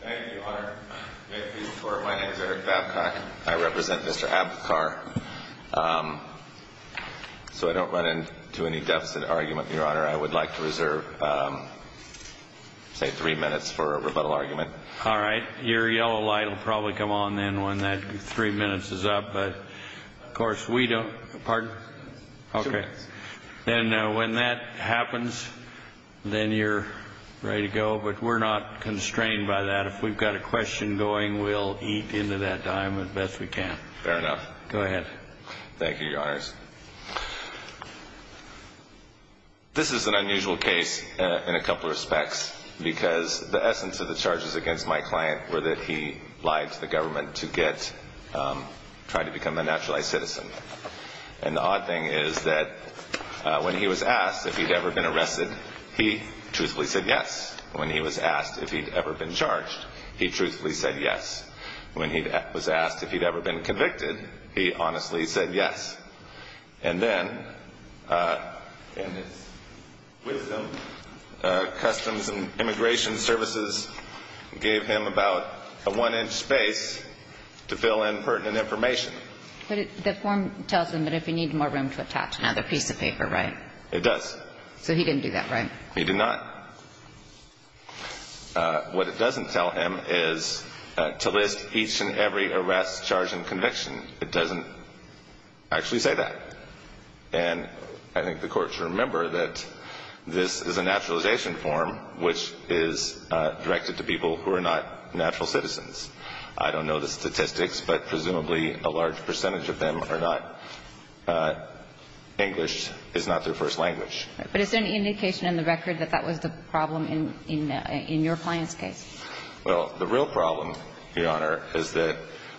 Thank you, Your Honor. My name is Eric Babcock. I represent Mr. Abpikar. So I don't run into any deficit argument, Your Honor. I would like to reserve, say, three minutes for a rebuttal argument. All right. Your yellow light will probably come on then when that three minutes is up, but of course we don't. Pardon? Two minutes. Then when that happens, then you're ready to go, but we're not constrained by that. If we've got a question going, we'll eat into that time as best we can. Fair enough. Go ahead. Thank you, Your Honors. This is an unusual case in a couple of respects because the essence of the charges against my client were that he lied to the government to get – and the odd thing is that when he was asked if he'd ever been arrested, he truthfully said yes. When he was asked if he'd ever been charged, he truthfully said yes. When he was asked if he'd ever been convicted, he honestly said yes. And then, in his wisdom, Customs and Immigration Services gave him about a one-inch space to fill in pertinent information. But the form tells him that if he needed more room to attach another piece of paper, right? It does. So he didn't do that, right? He did not. What it doesn't tell him is to list each and every arrest, charge and conviction. It doesn't actually say that. And I think the Court should remember that this is a naturalization form which is directed to people who are not natural citizens. I don't know the statistics, but presumably a large percentage of them are not. English is not their first language. But is there any indication in the record that that was the problem in your client's case? Well, the real problem, Your Honor, is that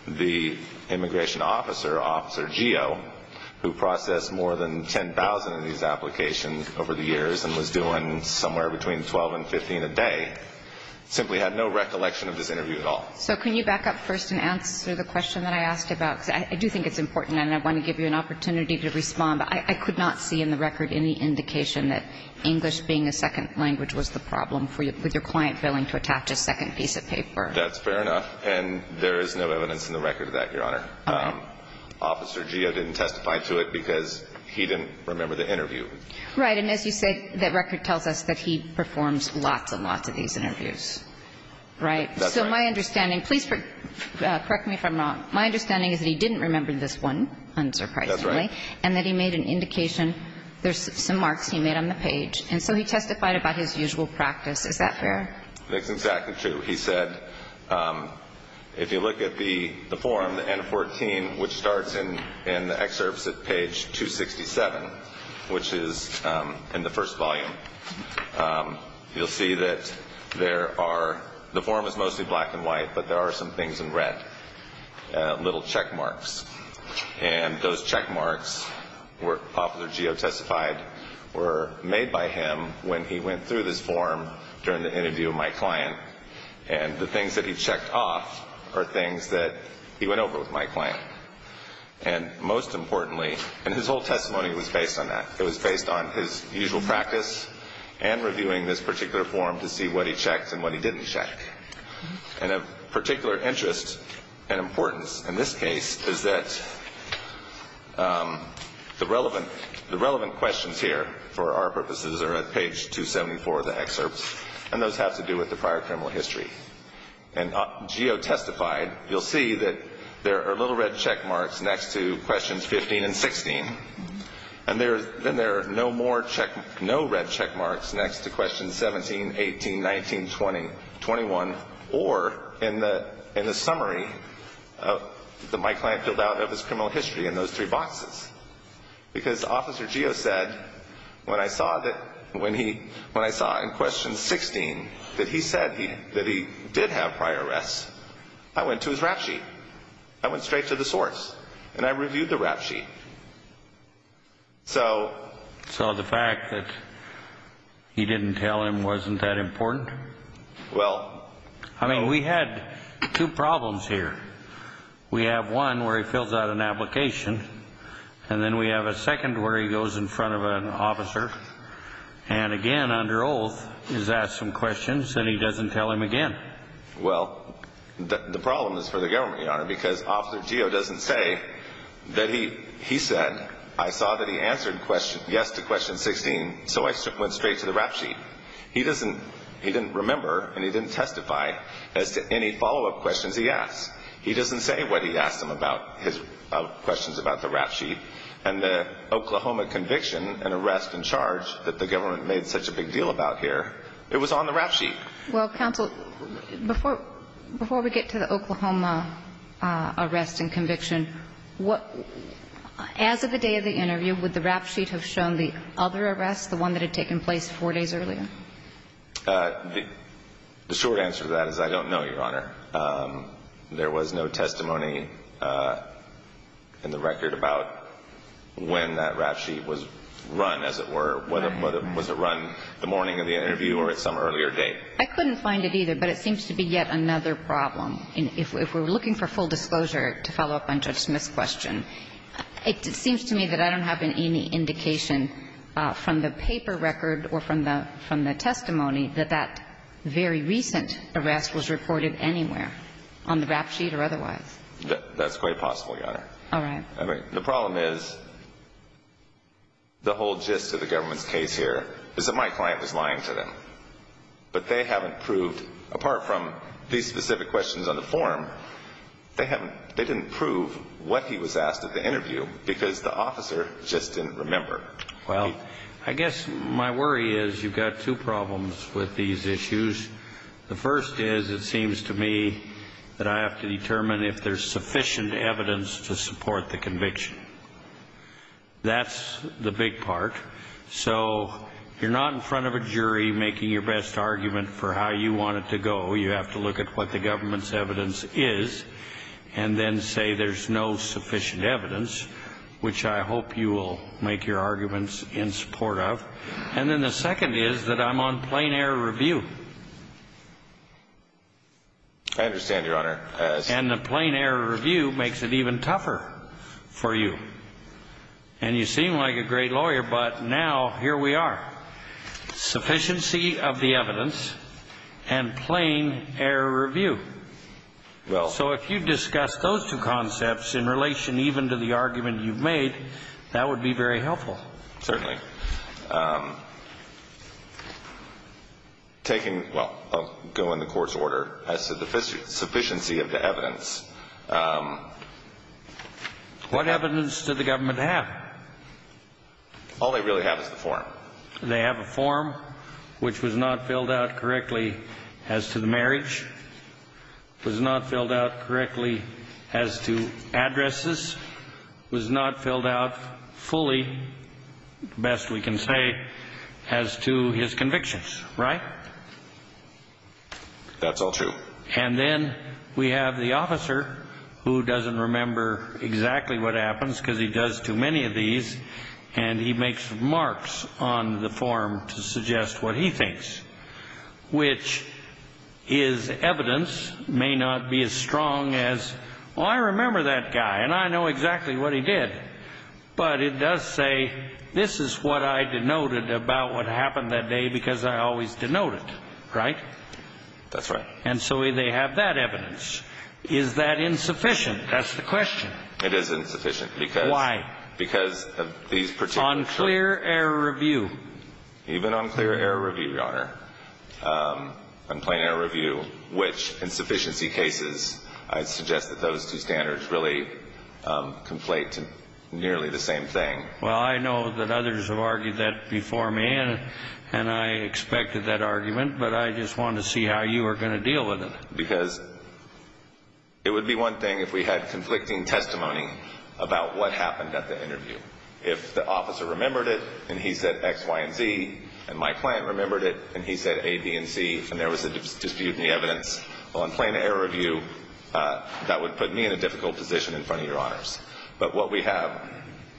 the immigration officer, Officer Geo, who processed more than 10,000 of these applications over the years and was doing somewhere between 12 and 15 a day, simply had no recollection of this interview at all. So can you back up first and answer the question that I asked about? Because I do think it's important, and I want to give you an opportunity to respond. But I could not see in the record any indication that English being a second language was the problem with your client failing to attach a second piece of paper. That's fair enough. And there is no evidence in the record of that, Your Honor. Officer Geo didn't testify to it because he didn't remember the interview. Right. And as you said, the record tells us that he performs lots and lots of these interviews, right? That's right. So my understanding, please correct me if I'm wrong. My understanding is that he didn't remember this one, unsurprisingly. That's right. And that he made an indication. There's some marks he made on the page. And so he testified about his usual practice. Is that fair? That's exactly true. He said, if you look at the form, the N-14, which starts in the excerpts at page 267, which is in the first volume, you'll see that there are, the form is mostly black and white, but there are some things in red, little check marks. And those check marks, where Officer Geo testified, were made by him when he went through this form during the interview with my client. And the things that he checked off are things that he went over with my client. And most importantly, and his whole testimony was based on that. It was based on his usual practice and reviewing this particular form to see what he checked and what he didn't check. And of particular interest and importance in this case is that the relevant questions here, for our purposes, are at page 274 of the excerpts. And those have to do with the prior criminal history. And Geo testified, you'll see that there are little red check marks next to questions 15 and 16. And then there are no more check marks, no red check marks next to questions 17, 18, 19, 20, 21, or in the summary that my client filled out of his criminal history in those three boxes. Because Officer Geo said, when I saw in question 16 that he said that he did have prior arrests, I went to his rap sheet. I went straight to the source. And I reviewed the rap sheet. So. So the fact that he didn't tell him wasn't that important? Well. I mean, we had two problems here. We have one where he fills out an application. And then we have a second where he goes in front of an officer. And again, under oath, he's asked some questions and he doesn't tell him again. Well, the problem is for the government, Your Honor, because Officer Geo doesn't say that he said, I saw that he answered yes to question 16, so I went straight to the rap sheet. He didn't remember and he didn't testify as to any follow-up questions he asked. He doesn't say what he asked him about his questions about the rap sheet. And the Oklahoma conviction and arrest and charge that the government made such a big deal about here, it was on the rap sheet. Well, counsel, before we get to the Oklahoma arrest and conviction, as of the day of the interview, would the rap sheet have shown the other arrest, the one that had taken place four days earlier? The short answer to that is I don't know, Your Honor. There was no testimony in the record about when that rap sheet was run, as it were, whether it was run the morning of the interview or at some earlier date. I couldn't find it either, but it seems to be yet another problem. If we're looking for full disclosure to follow up on Judge Smith's question, it seems to me that I don't have any indication from the paper record or from the testimony that that very recent arrest was reported anywhere on the rap sheet or otherwise. That's quite possible, Your Honor. All right. The problem is the whole gist of the government's case here is that my client was lying to them, but they haven't proved, apart from these specific questions on the form, they didn't prove what he was asked at the interview because the officer just didn't remember. Well, I guess my worry is you've got two problems with these issues. The first is it seems to me that I have to determine if there's sufficient evidence to support the conviction. That's the big part. So you're not in front of a jury making your best argument for how you want it to go. You have to look at what the government's evidence is and then say there's no sufficient evidence, which I hope you will make your arguments in support of. And then the second is that I'm on plain error review. I understand, Your Honor. And the plain error review makes it even tougher for you. And you seem like a great lawyer, but now here we are. Sufficiency of the evidence and plain error review. So if you discuss those two concepts in relation even to the argument you've made, that would be very helpful. Certainly. Taking the court's order as to the sufficiency of the evidence. What evidence did the government have? All they really have is the form. They have a form which was not filled out correctly as to the marriage, was not filled out correctly as to addresses, was not filled out fully, best we can say, as to his convictions. Right? That's all true. And then we have the officer who doesn't remember exactly what happens because he does too many of these, and he makes remarks on the form to suggest what he thinks, which is evidence may not be as strong as, oh, I remember that guy, and I know exactly what he did. But it does say this is what I denoted about what happened that day because I always denote it. Right? That's right. And so they have that evidence. Is that insufficient? That's the question. It is insufficient. Why? Because of these particular choices. On clear error review. Even on clear error review, Your Honor, on plain error review, which in sufficiency cases, I suggest that those two standards really conflate to nearly the same thing. Well, I know that others have argued that before me, and I expected that argument, but I just wanted to see how you were going to deal with it. Because it would be one thing if we had conflicting testimony about what happened at the interview. If the officer remembered it and he said X, Y, and Z, and my client remembered it and he said A, B, and C, and there was a dispute in the evidence, well, on plain error review, that would put me in a difficult position in front of Your Honors. But what we have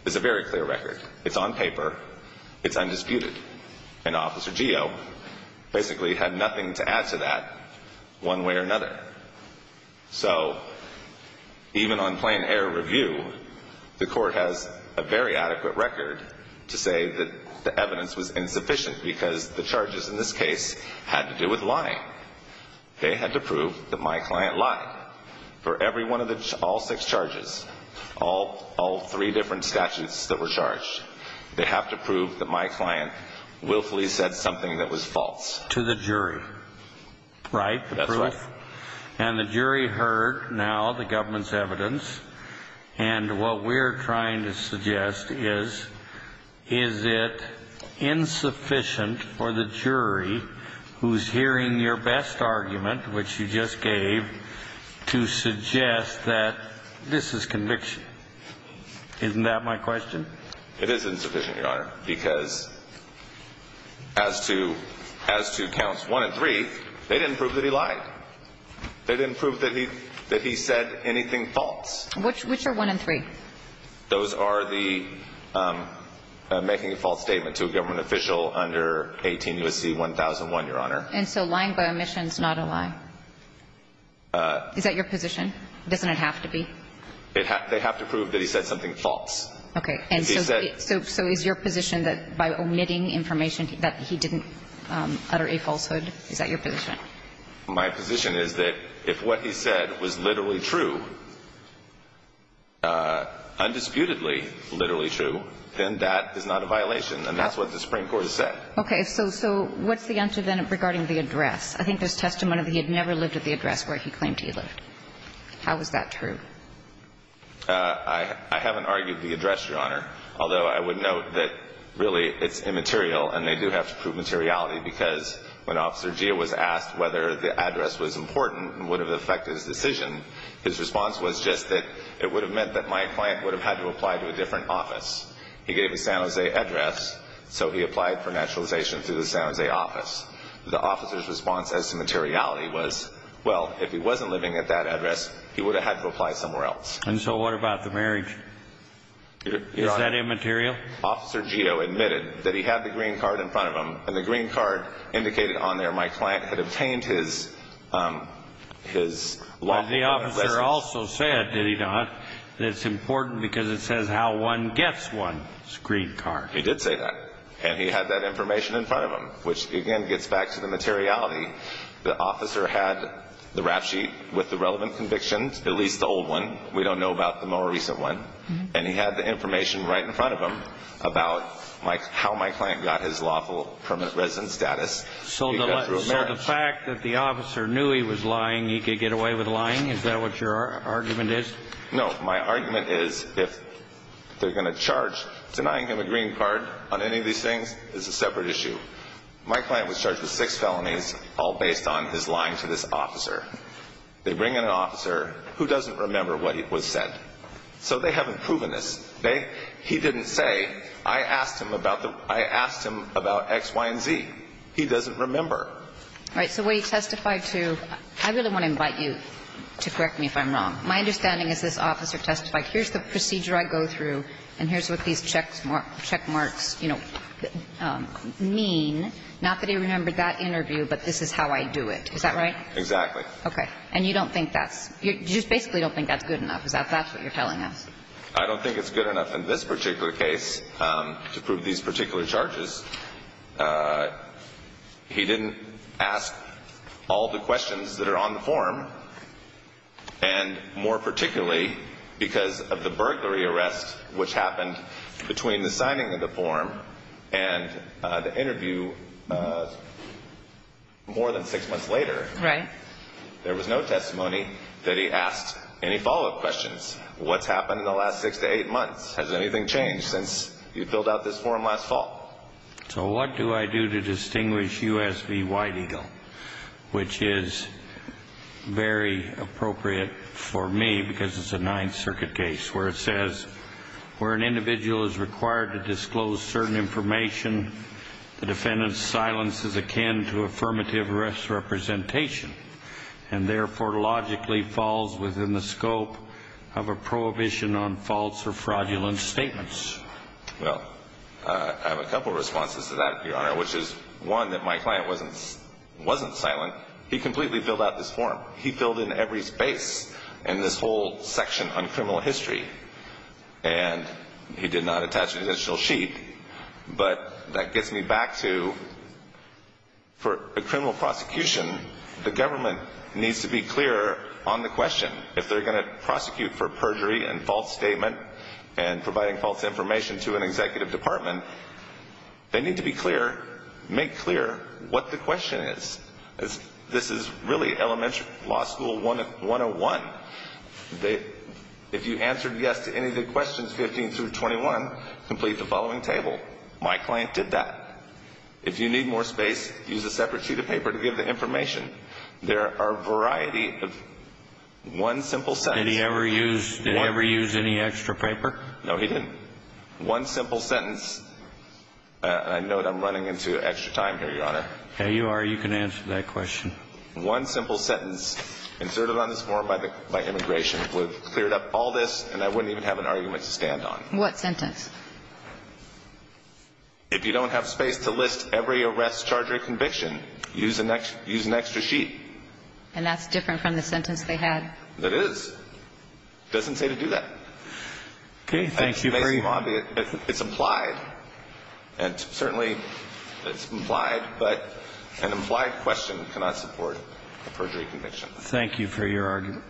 is a very clear record. It's on paper. It's undisputed. And Officer Geo basically had nothing to add to that one way or another. So even on plain error review, the Court has a very adequate record to say that the evidence was insufficient because the charges in this case had to do with lying. They had to prove that my client lied. For every one of the all six charges, all three different statutes that were charged, they have to prove that my client willfully said something that was false. To the jury. Right? That's right. And the jury heard now the government's evidence, and what we're trying to suggest is, is it insufficient for the jury who's hearing your best argument, which you just gave, to suggest that this is conviction? Isn't that my question? It is insufficient, Your Honor, because as to counts 1 and 3, they didn't prove that he lied. They didn't prove that he said anything false. Which are 1 and 3? Those are the making a false statement to a government official under 18 U.S.C. 1001, Your Honor. And so lying by omission is not a lie? Is that your position? Doesn't it have to be? They have to prove that he said something false. Okay. And so is your position that by omitting information that he didn't utter a falsehood, is that your position? My position is that if what he said was literally true, undisputedly literally true, then that is not a violation, and that's what the Supreme Court has said. Okay. So what's the answer then regarding the address? I think there's testimony that he had never lived at the address where he claimed he lived. How is that true? I haven't argued the address, Your Honor, although I would note that really it's immaterial and they do have to prove materiality because when Officer Gia was asked whether the address was important and would have affected his decision, his response was just that it would have meant that my client would have had to apply to a different office. He gave a San Jose address, so he applied for naturalization through the San Jose office. The officer's response as to materiality was, well, if he wasn't living at that address, he would have had to apply somewhere else. And so what about the marriage? Your Honor. Is that immaterial? Officer Gio admitted that he had the green card in front of him, and the green card indicated on there my client had obtained his lawful permit. But the officer also said, did he not, that it's important because it says how one gets one's green card. He did say that, and he had that information in front of him, which, again, gets back to the materiality. The officer had the rap sheet with the relevant convictions, at least the old one. We don't know about the more recent one. And he had the information right in front of him about how my client got his lawful permanent residence status. So the fact that the officer knew he was lying, he could get away with lying? Is that what your argument is? No. My argument is if they're going to charge, denying him a green card on any of these things is a separate issue. My client was charged with six felonies, all based on his lying to this officer. They bring in an officer who doesn't remember what was said. So they haven't proven this. He didn't say, I asked him about the – I asked him about X, Y, and Z. He doesn't remember. All right. So what he testified to – I really want to invite you to correct me if I'm wrong. My understanding is this officer testified, here's the procedure I go through, and here's what these check marks, you know, mean. Not that he remembered that interview, but this is how I do it. Is that right? Exactly. Okay. And you don't think that's – you just basically don't think that's good enough? Is that what you're telling us? I don't think it's good enough in this particular case to prove these particular charges. He didn't ask all the questions that are on the form. And more particularly, because of the burglary arrest which happened between the signing of the form and the interview more than six months later. Right. There was no testimony that he asked any follow-up questions. What's happened in the last six to eight months? Has anything changed since you filled out this form last fall? So what do I do to distinguish U.S. v. White Eagle, which is very appropriate for me because it's a Ninth Circuit case where it says, where an individual is required to disclose certain information, the defendant's silence is akin to affirmative arrest representation and therefore logically falls within the scope of a prohibition on false or fraudulent statements. Well, I have a couple of responses to that, Your Honor, which is, one, that my client wasn't silent. He completely filled out this form. He filled in every space in this whole section on criminal history. And he did not attach an additional sheet. But that gets me back to, for a criminal prosecution, the government needs to be clearer on the question. If they're going to prosecute for perjury and false statement and providing false information to an executive department, they need to be clear, make clear what the question is. This is really elementary law school 101. If you answered yes to any of the questions 15 through 21, complete the following table. My client did that. If you need more space, use a separate sheet of paper to give the information. There are a variety of one simple sentence. Did he ever use any extra paper? No, he didn't. One simple sentence, and I note I'm running into extra time here, Your Honor. Yeah, you are. You can answer that question. One simple sentence inserted on this form by immigration would have cleared up all this, and I wouldn't even have an argument to stand on. What sentence? If you don't have space to list every arrest, charge, or conviction, use an extra sheet. And that's different from the sentence they had. It is. It doesn't say to do that. Okay. Thank you. It's implied, and certainly it's implied, but an implied question cannot support a perjury conviction. Thank you for your argument.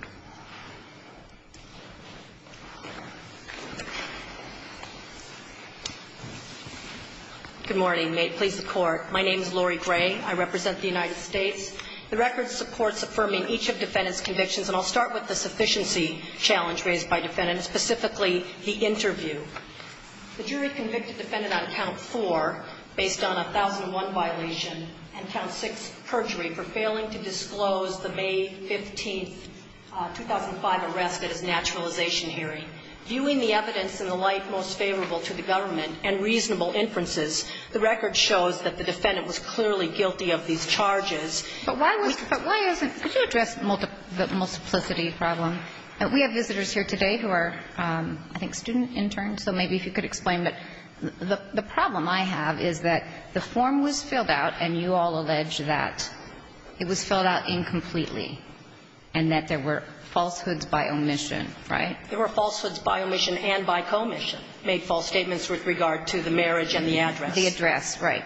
Good morning. May it please the Court. My name is Lori Gray. I represent the United States. The record supports affirming each of defendants' convictions, and I'll start with the sufficiency challenge raised by defendants, specifically the interview. The jury convicted defendant on count four based on a 1001 violation and count six perjury for failing to disclose the May 15th, 2005 arrest at his naturalization hearing. Viewing the evidence in the light most favorable to the government and reasonable inferences, the record shows that the defendant was clearly guilty of these charges. But why isn't the multiplicity problem? We have visitors here today who are, I think, student interns. So maybe if you could explain that. The problem I have is that the form was filled out, and you all allege that it was filled out incompletely and that there were falsehoods by omission, right? There were falsehoods by omission and by commission, made false statements with regard to the marriage and the address. The address, right.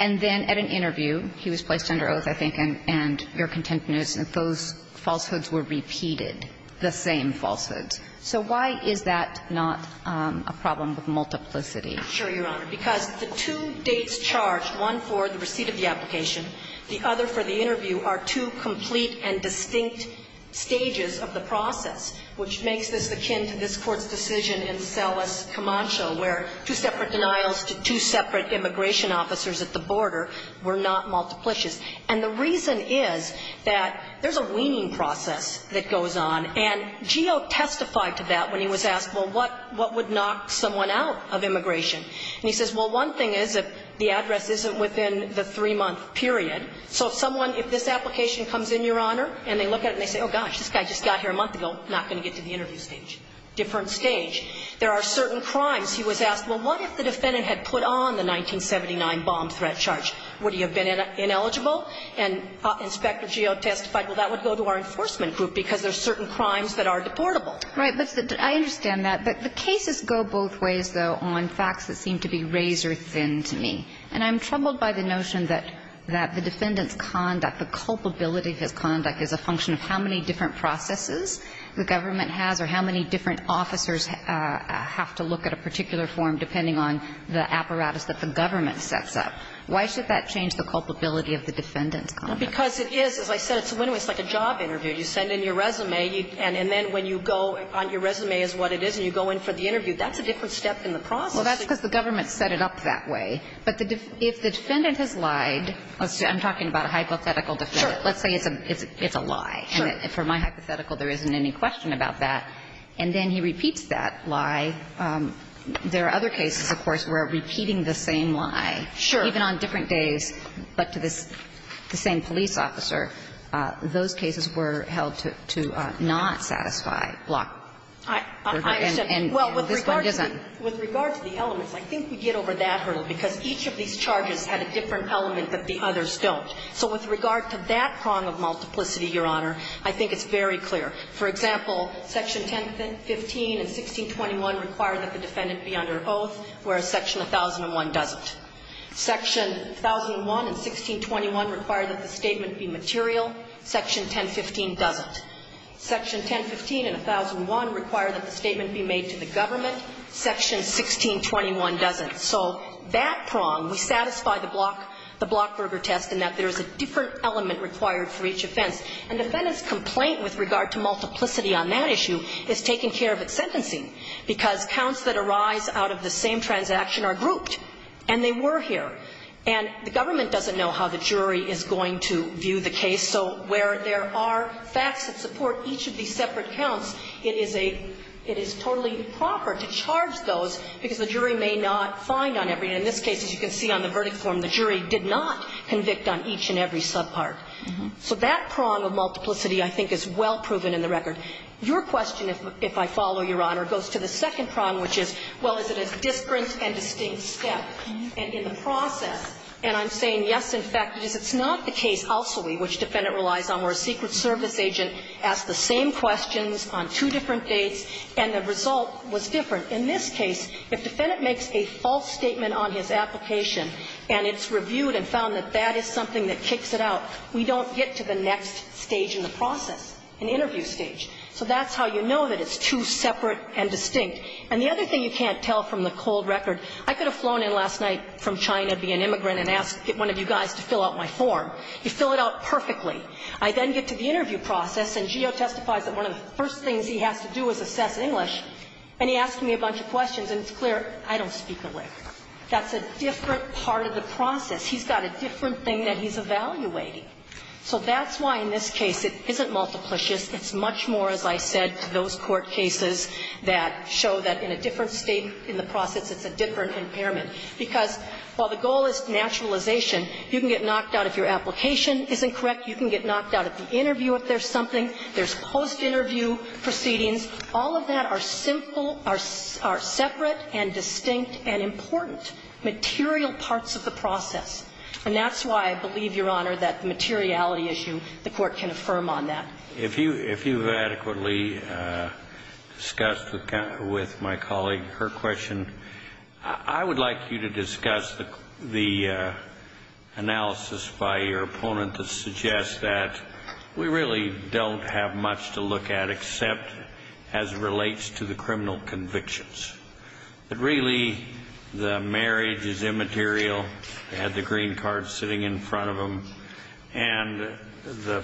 And then at an interview, he was placed under oath, I think, and your contempt notice, that those falsehoods were repeated, the same falsehoods. So why is that not a problem with multiplicity? Sure, Your Honor. Because the two dates charged, one for the receipt of the application, the other for the interview, are two complete and distinct stages of the process, which makes this akin to this Court's decision in Selles-Camacho, where two separate denials to two separate immigration officers at the border were not multiplicious. And the reason is that there's a weaning process that goes on. And Geo testified to that when he was asked, well, what would knock someone out of immigration? And he says, well, one thing is that the address isn't within the three-month period. So if someone, if this application comes in, Your Honor, and they look at it and they say, oh, gosh, this guy just got here a month ago, not going to get to the interview stage. Different stage. There are certain crimes. He was asked, well, what if the defendant had put on the 1979 bomb threat charge? Would he have been ineligible? And Inspector Geo testified, well, that would go to our enforcement group because there are certain crimes that are deportable. Right. But I understand that. But the cases go both ways, though, on facts that seem to be razor thin to me. And I'm troubled by the notion that the defendant's conduct, the culpability of his conduct is a function of how many different processes the government has or how many different officers have to look at a particular form depending on the apparatus that the government sets up. Why should that change the culpability of the defendant's conduct? Well, because it is, as I said, it's a win-win. It's like a job interview. You send in your resume, and then when you go on your resume is what it is and you go in for the interview, that's a different step in the process. Well, that's because the government set it up that way. But if the defendant has lied, I'm talking about a hypothetical defendant. Sure. Let's say it's a lie. Sure. And for my hypothetical, there isn't any question about that. And then he repeats that lie. There are other cases, of course, where repeating the same lie, even on different days, but to this same police officer, those cases were held to not satisfy block. I understand. And this one doesn't. Well, with regard to the elements, I think we get over that hurdle, because each of these charges had a different element that the others don't. So with regard to that prong of multiplicity, Your Honor, I think it's very clear. For example, Section 1015 and 1621 require that the defendant be under oath, whereas Section 1001 doesn't. Section 1001 and 1621 require that the statement be material. Section 1015 doesn't. Section 1015 and 1001 require that the statement be made to the government. Section 1621 doesn't. So that prong, we satisfy the block – the Blockberger test in that there is a different element required for each offense. And the defendant's complaint with regard to multiplicity on that issue is taking care of its sentencing, because counts that arise out of the same transaction are grouped, and they were here. And the government doesn't know how the jury is going to view the case. So where there are facts that support each of these separate counts, it is a – it is totally improper to charge those, because the jury may not find on every – in this case, as you can see on the verdict form, the jury did not convict on each and every subpart. So that prong of multiplicity, I think, is well proven in the record. Your question, if I follow, Your Honor, goes to the second prong, which is, well, is it a disparate and distinct step? And in the process – and I'm saying, yes, in fact it is. It's not the case, also, which defendant relies on, where a Secret Service agent asked the same questions on two different dates, and the result was different. In this case, if defendant makes a false statement on his application, and it's reviewed and found that that is something that kicks it out, we don't get to the next stage in the process, in the interview stage. So that's how you know that it's two separate and distinct. And the other thing you can't tell from the cold record, I could have flown in last night from China, be an immigrant, and asked one of you guys to fill out my form. You fill it out perfectly. I then get to the interview process, and Geo testifies that one of the first things he has to do is assess English, and he asks me a bunch of questions, and it's clear I don't speak the language. That's a different part of the process. He's got a different thing that he's evaluating. So that's why, in this case, it isn't multiplicious. It's much more, as I said, to those court cases that show that in a different State, in the process, it's a different impairment, because while the goal is naturalization, you can get knocked out if your application isn't correct. You can get knocked out at the interview if there's something. There's post-interview proceedings. All of that are simple, are separate and distinct and important material parts of the process, and that's why I believe, Your Honor, that the materiality issue, the Court can affirm on that. If you've adequately discussed with my colleague her question, I would like you to discuss the analysis by your opponent that suggests that we really don't have much to look at except as it relates to the criminal convictions, that really the marriage is immaterial, they had the green card sitting in front of them, and the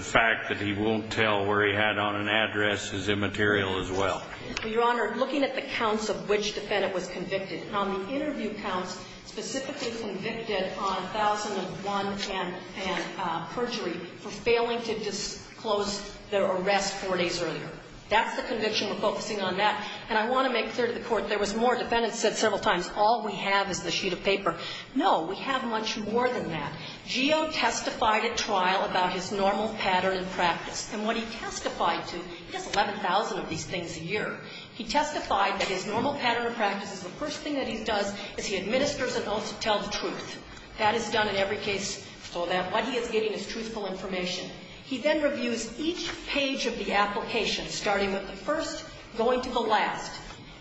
fact that he won't tell where he had on an address is immaterial as well. Your Honor, looking at the counts of which defendant was convicted, on the interview counts, specifically convicted on 1001 and perjury for failing to disclose their arrest four days earlier. That's the conviction. We're focusing on that. And I want to make clear to the Court, there was more. Defendants said several times, all we have is the sheet of paper. No, we have much more than that. Geo testified at trial about his normal pattern and practice. And what he testified to, he does 11,000 of these things a year, he testified that his normal pattern of practice is the first thing that he does is he administers an oath to tell the truth. That is done in every case so that what he is getting is truthful information. He then reviews each page of the application, starting with the first, going to the last.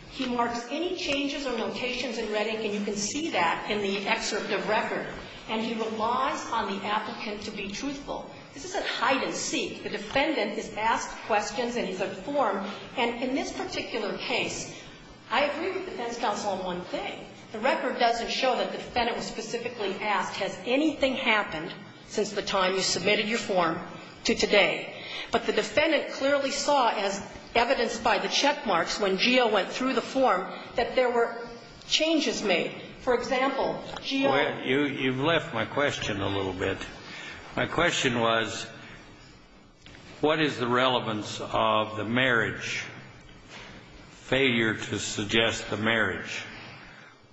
He marks any changes or notations in Reddick, and you can see that in the excerpt of record. And he relies on the applicant to be truthful. This isn't hide and seek. The defendant is asked questions and he's informed. And in this particular case, I agree with the defense counsel on one thing. The record doesn't show that the defendant was specifically asked, has anything happened since the time you submitted your form to today? But the defendant clearly saw, as evidenced by the checkmarks when Geo went through the form, that there were changes made. For example, Geo. You've left my question a little bit. My question was, what is the relevance of the marriage, failure to suggest the marriage,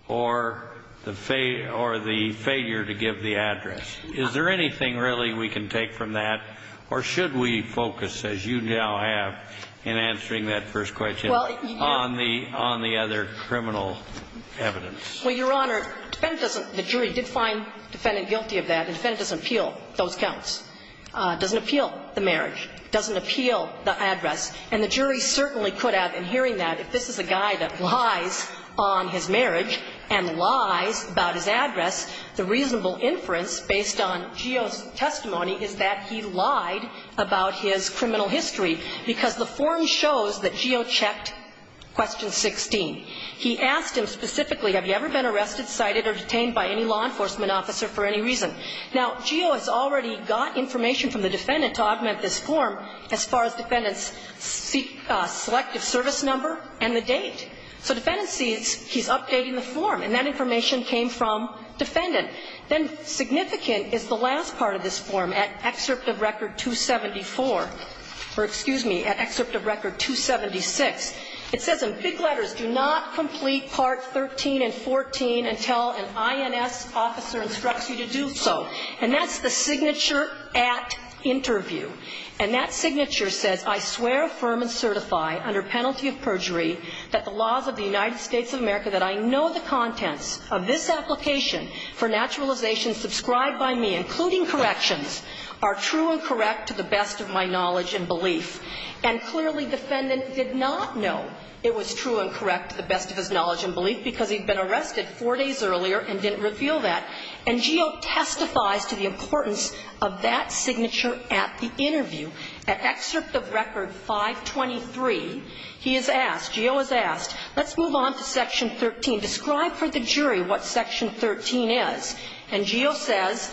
or the failure to give the address? Is there anything really we can take from that, or should we focus, as you now have in answering that first question, on the other criminal evidence? Well, Your Honor, the jury did find the defendant guilty of that. The defendant doesn't appeal those counts, doesn't appeal the marriage, doesn't appeal the address. And the jury certainly could have, in hearing that, if this is a guy that lies on his marriage and lies about his address, the reasonable inference, based on Geo's testimony, is that he lied about his criminal history. Because the form shows that Geo checked question 16. He asked him specifically, have you ever been arrested, cited, or detained by any law enforcement officer for any reason? Now, Geo has already got information from the defendant to augment this form as far as the defendant's selective service number and the date. So the defendant sees he's updating the form, and that information came from defendant. Then significant is the last part of this form, at excerpt of record 274, or, excuse me, at excerpt of record 276. It says in big letters, do not complete part 13 and 14 until an INS officer instructs you to do so. And that's the signature at interview. And that signature says, I swear, affirm, and certify under penalty of perjury that the laws of the United States of America that I know the contents of this application for naturalization subscribed by me, including corrections, are true and correct to the best of my knowledge and belief. And clearly, defendant did not know it was true and correct to the best of his knowledge and belief, because he'd been arrested four days earlier and didn't reveal that. And Geo testifies to the importance of that signature at the interview. At excerpt of record 523, he is asked, Geo is asked, let's move on to section 13. Describe for the jury what section 13 is. And Geo says,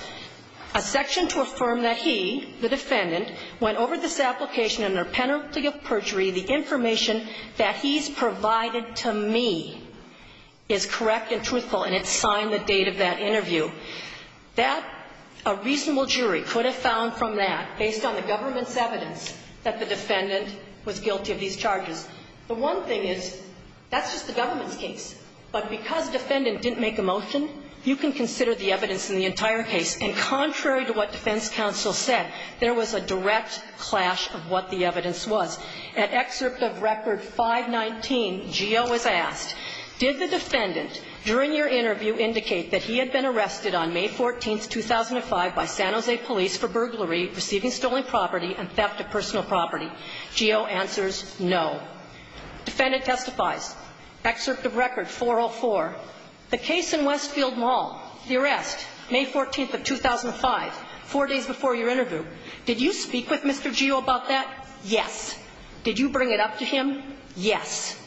a section to affirm that he, the defendant, went over this application under penalty of perjury. The information that he's provided to me is correct and truthful. And it's signed the date of that interview. That, a reasonable jury could have found from that, based on the government's evidence, that the defendant was guilty of these charges. The one thing is, that's just the government's case. But because defendant didn't make a motion, you can consider the evidence in the entire case. And contrary to what defense counsel said, there was a direct clash of what the evidence was. At excerpt of record 519, Geo is asked, did the defendant, during your interview, indicate that he had been arrested on May 14th, 2005, by San Jose police for burglary, receiving stolen property, and theft of personal property? Geo answers, no. Defendant testifies. Excerpt of record 404, the case in Westfield Mall, the arrest, May 14th of 2005, four days before your interview. Did you speak with Mr. Geo about that? Yes. Did you bring it up to him? Yes.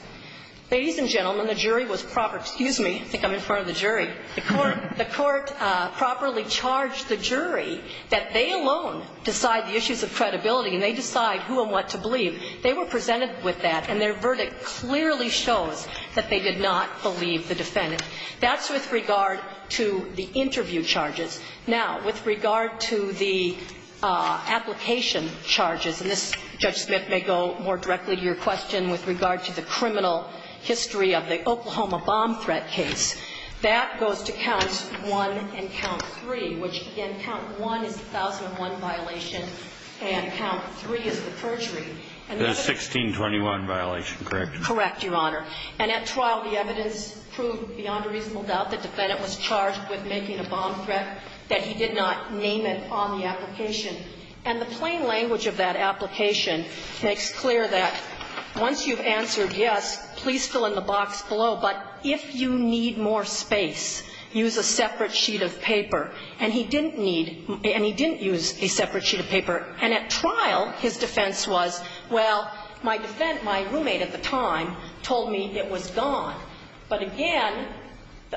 Ladies and gentlemen, the jury was proper. Excuse me. I think I'm in front of the jury. The court properly charged the jury that they alone decide the issues of credibility and they decide who and what to believe. They were presented with that, and their verdict clearly shows that they did not believe the defendant. That's with regard to the interview charges. Now, with regard to the application charges, and this, Judge Smith, may go more directly to your question with regard to the criminal history of the Oklahoma bomb threat case. That goes to count one and count three, which, again, count one is the 1001 violation, and count three is the perjury. The 1621 violation, correct? Correct, Your Honor. And at trial, the evidence proved beyond a reasonable doubt that the defendant was charged with making a bomb threat, that he did not name it on the application. And the plain language of that application makes clear that once you've answered yes, please fill in the box below. But if you need more space, use a separate sheet of paper. And he didn't need and he didn't use a separate sheet of paper. And at trial, his defense was, well, my defense, my roommate at the time told me it was gone. But again,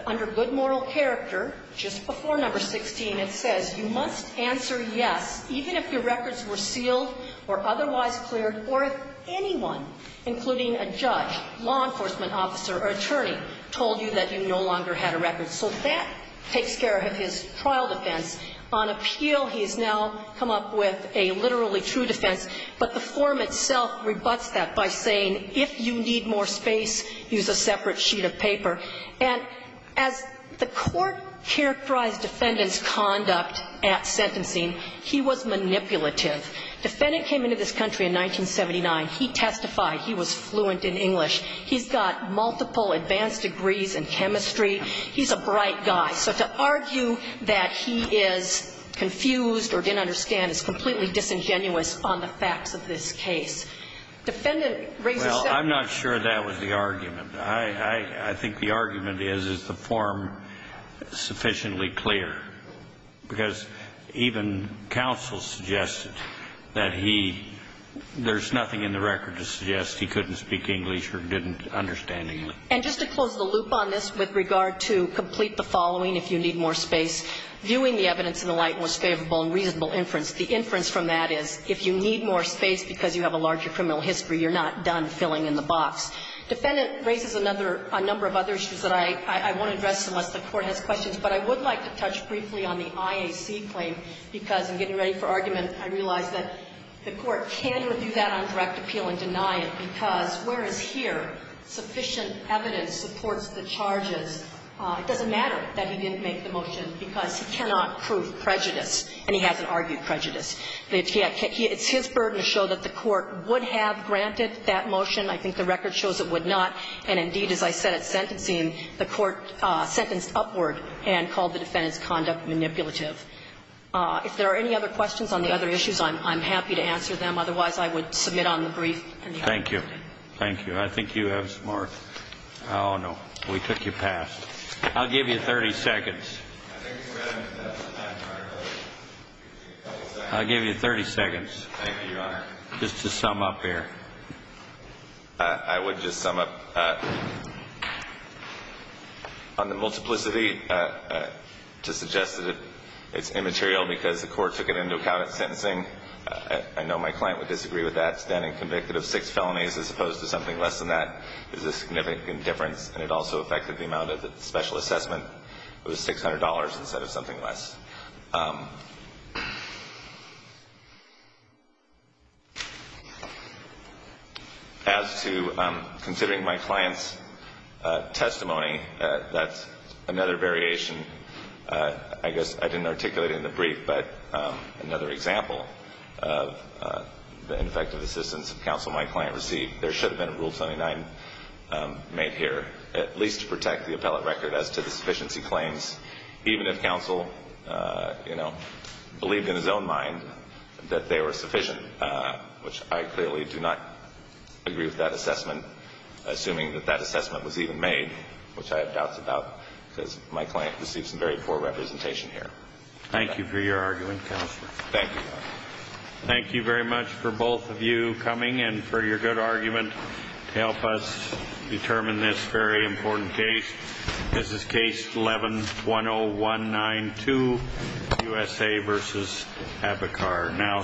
under good moral character, just before number 16, it says you must answer yes, even if your records were sealed or otherwise cleared or if anyone, including a judge, law enforcement officer or attorney, told you that you no longer had a record. So that takes care of his trial defense. On appeal, he's now come up with a literally true defense, but the form itself rebuts that by saying if you need more space, use a separate sheet of paper. And as the Court characterized defendant's conduct at sentencing, he was manipulative. The defendant came into this country in 1979. He testified. He was fluent in English. He's got multiple advanced degrees in chemistry. He's a bright guy. So to argue that he is confused or didn't understand is completely disingenuous on the facts of this case. Defendant raises several points. Well, I'm not sure that was the argument. I think the argument is, is the form sufficiently clear? Because even counsel suggested that he – there's nothing in the record to suggest he couldn't speak English or didn't understand English. And just to close the loop on this, with regard to complete the following, if you need more space, viewing the evidence in the light was favorable and reasonable inference. The inference from that is if you need more space because you have a larger criminal history, you're not done filling in the box. Defendant raises another – a number of other issues that I won't address unless the Court has questions. But I would like to touch briefly on the IAC claim, because in getting ready for argument, I realized that the Court can review that on direct appeal and deny it, because whereas here sufficient evidence supports the charges, it doesn't matter that he didn't make the motion, because he cannot prove prejudice and he hasn't argued prejudice. The IAC – it's his burden to show that the Court would have granted that motion. I think the record shows it would not. And indeed, as I said at sentencing, the Court sentenced upward and called the defendant's conduct manipulative. If there are any other questions on the other issues, I'm happy to answer them. Otherwise, I would submit on the brief. Thank you. Thank you. I think you have some more. Oh, no. We took you past. I'll give you 30 seconds. I think we have enough time, Your Honor. I'll give you 30 seconds. Thank you, Your Honor. Just to sum up here. I would just sum up. On the multiplicity, to suggest that it's immaterial because the Court took it into account at sentencing, I know my client would disagree with that. Standing convicted of six felonies as opposed to something less than that is a significant difference, and it also affected the amount of the special assessment. It was $600 instead of something less. As to considering my client's testimony, that's another variation. I guess I didn't articulate it in the brief, but another example of the ineffective assistance of counsel my client received. There should have been a Rule 79 made here, at least to protect the appellate record as to the sufficiency claims, even if counsel believed in his own mind that they were sufficient, which I clearly do not agree with that assessment, assuming that that assessment was even made, which I have doubts about because my client received some very poor representation here. Thank you for your argument, Counselor. Thank you, Your Honor. Thank you very much for both of you coming and for your good argument to help us determine this very important case. This is Case 11-10192, USA v. Abacar, now submitted.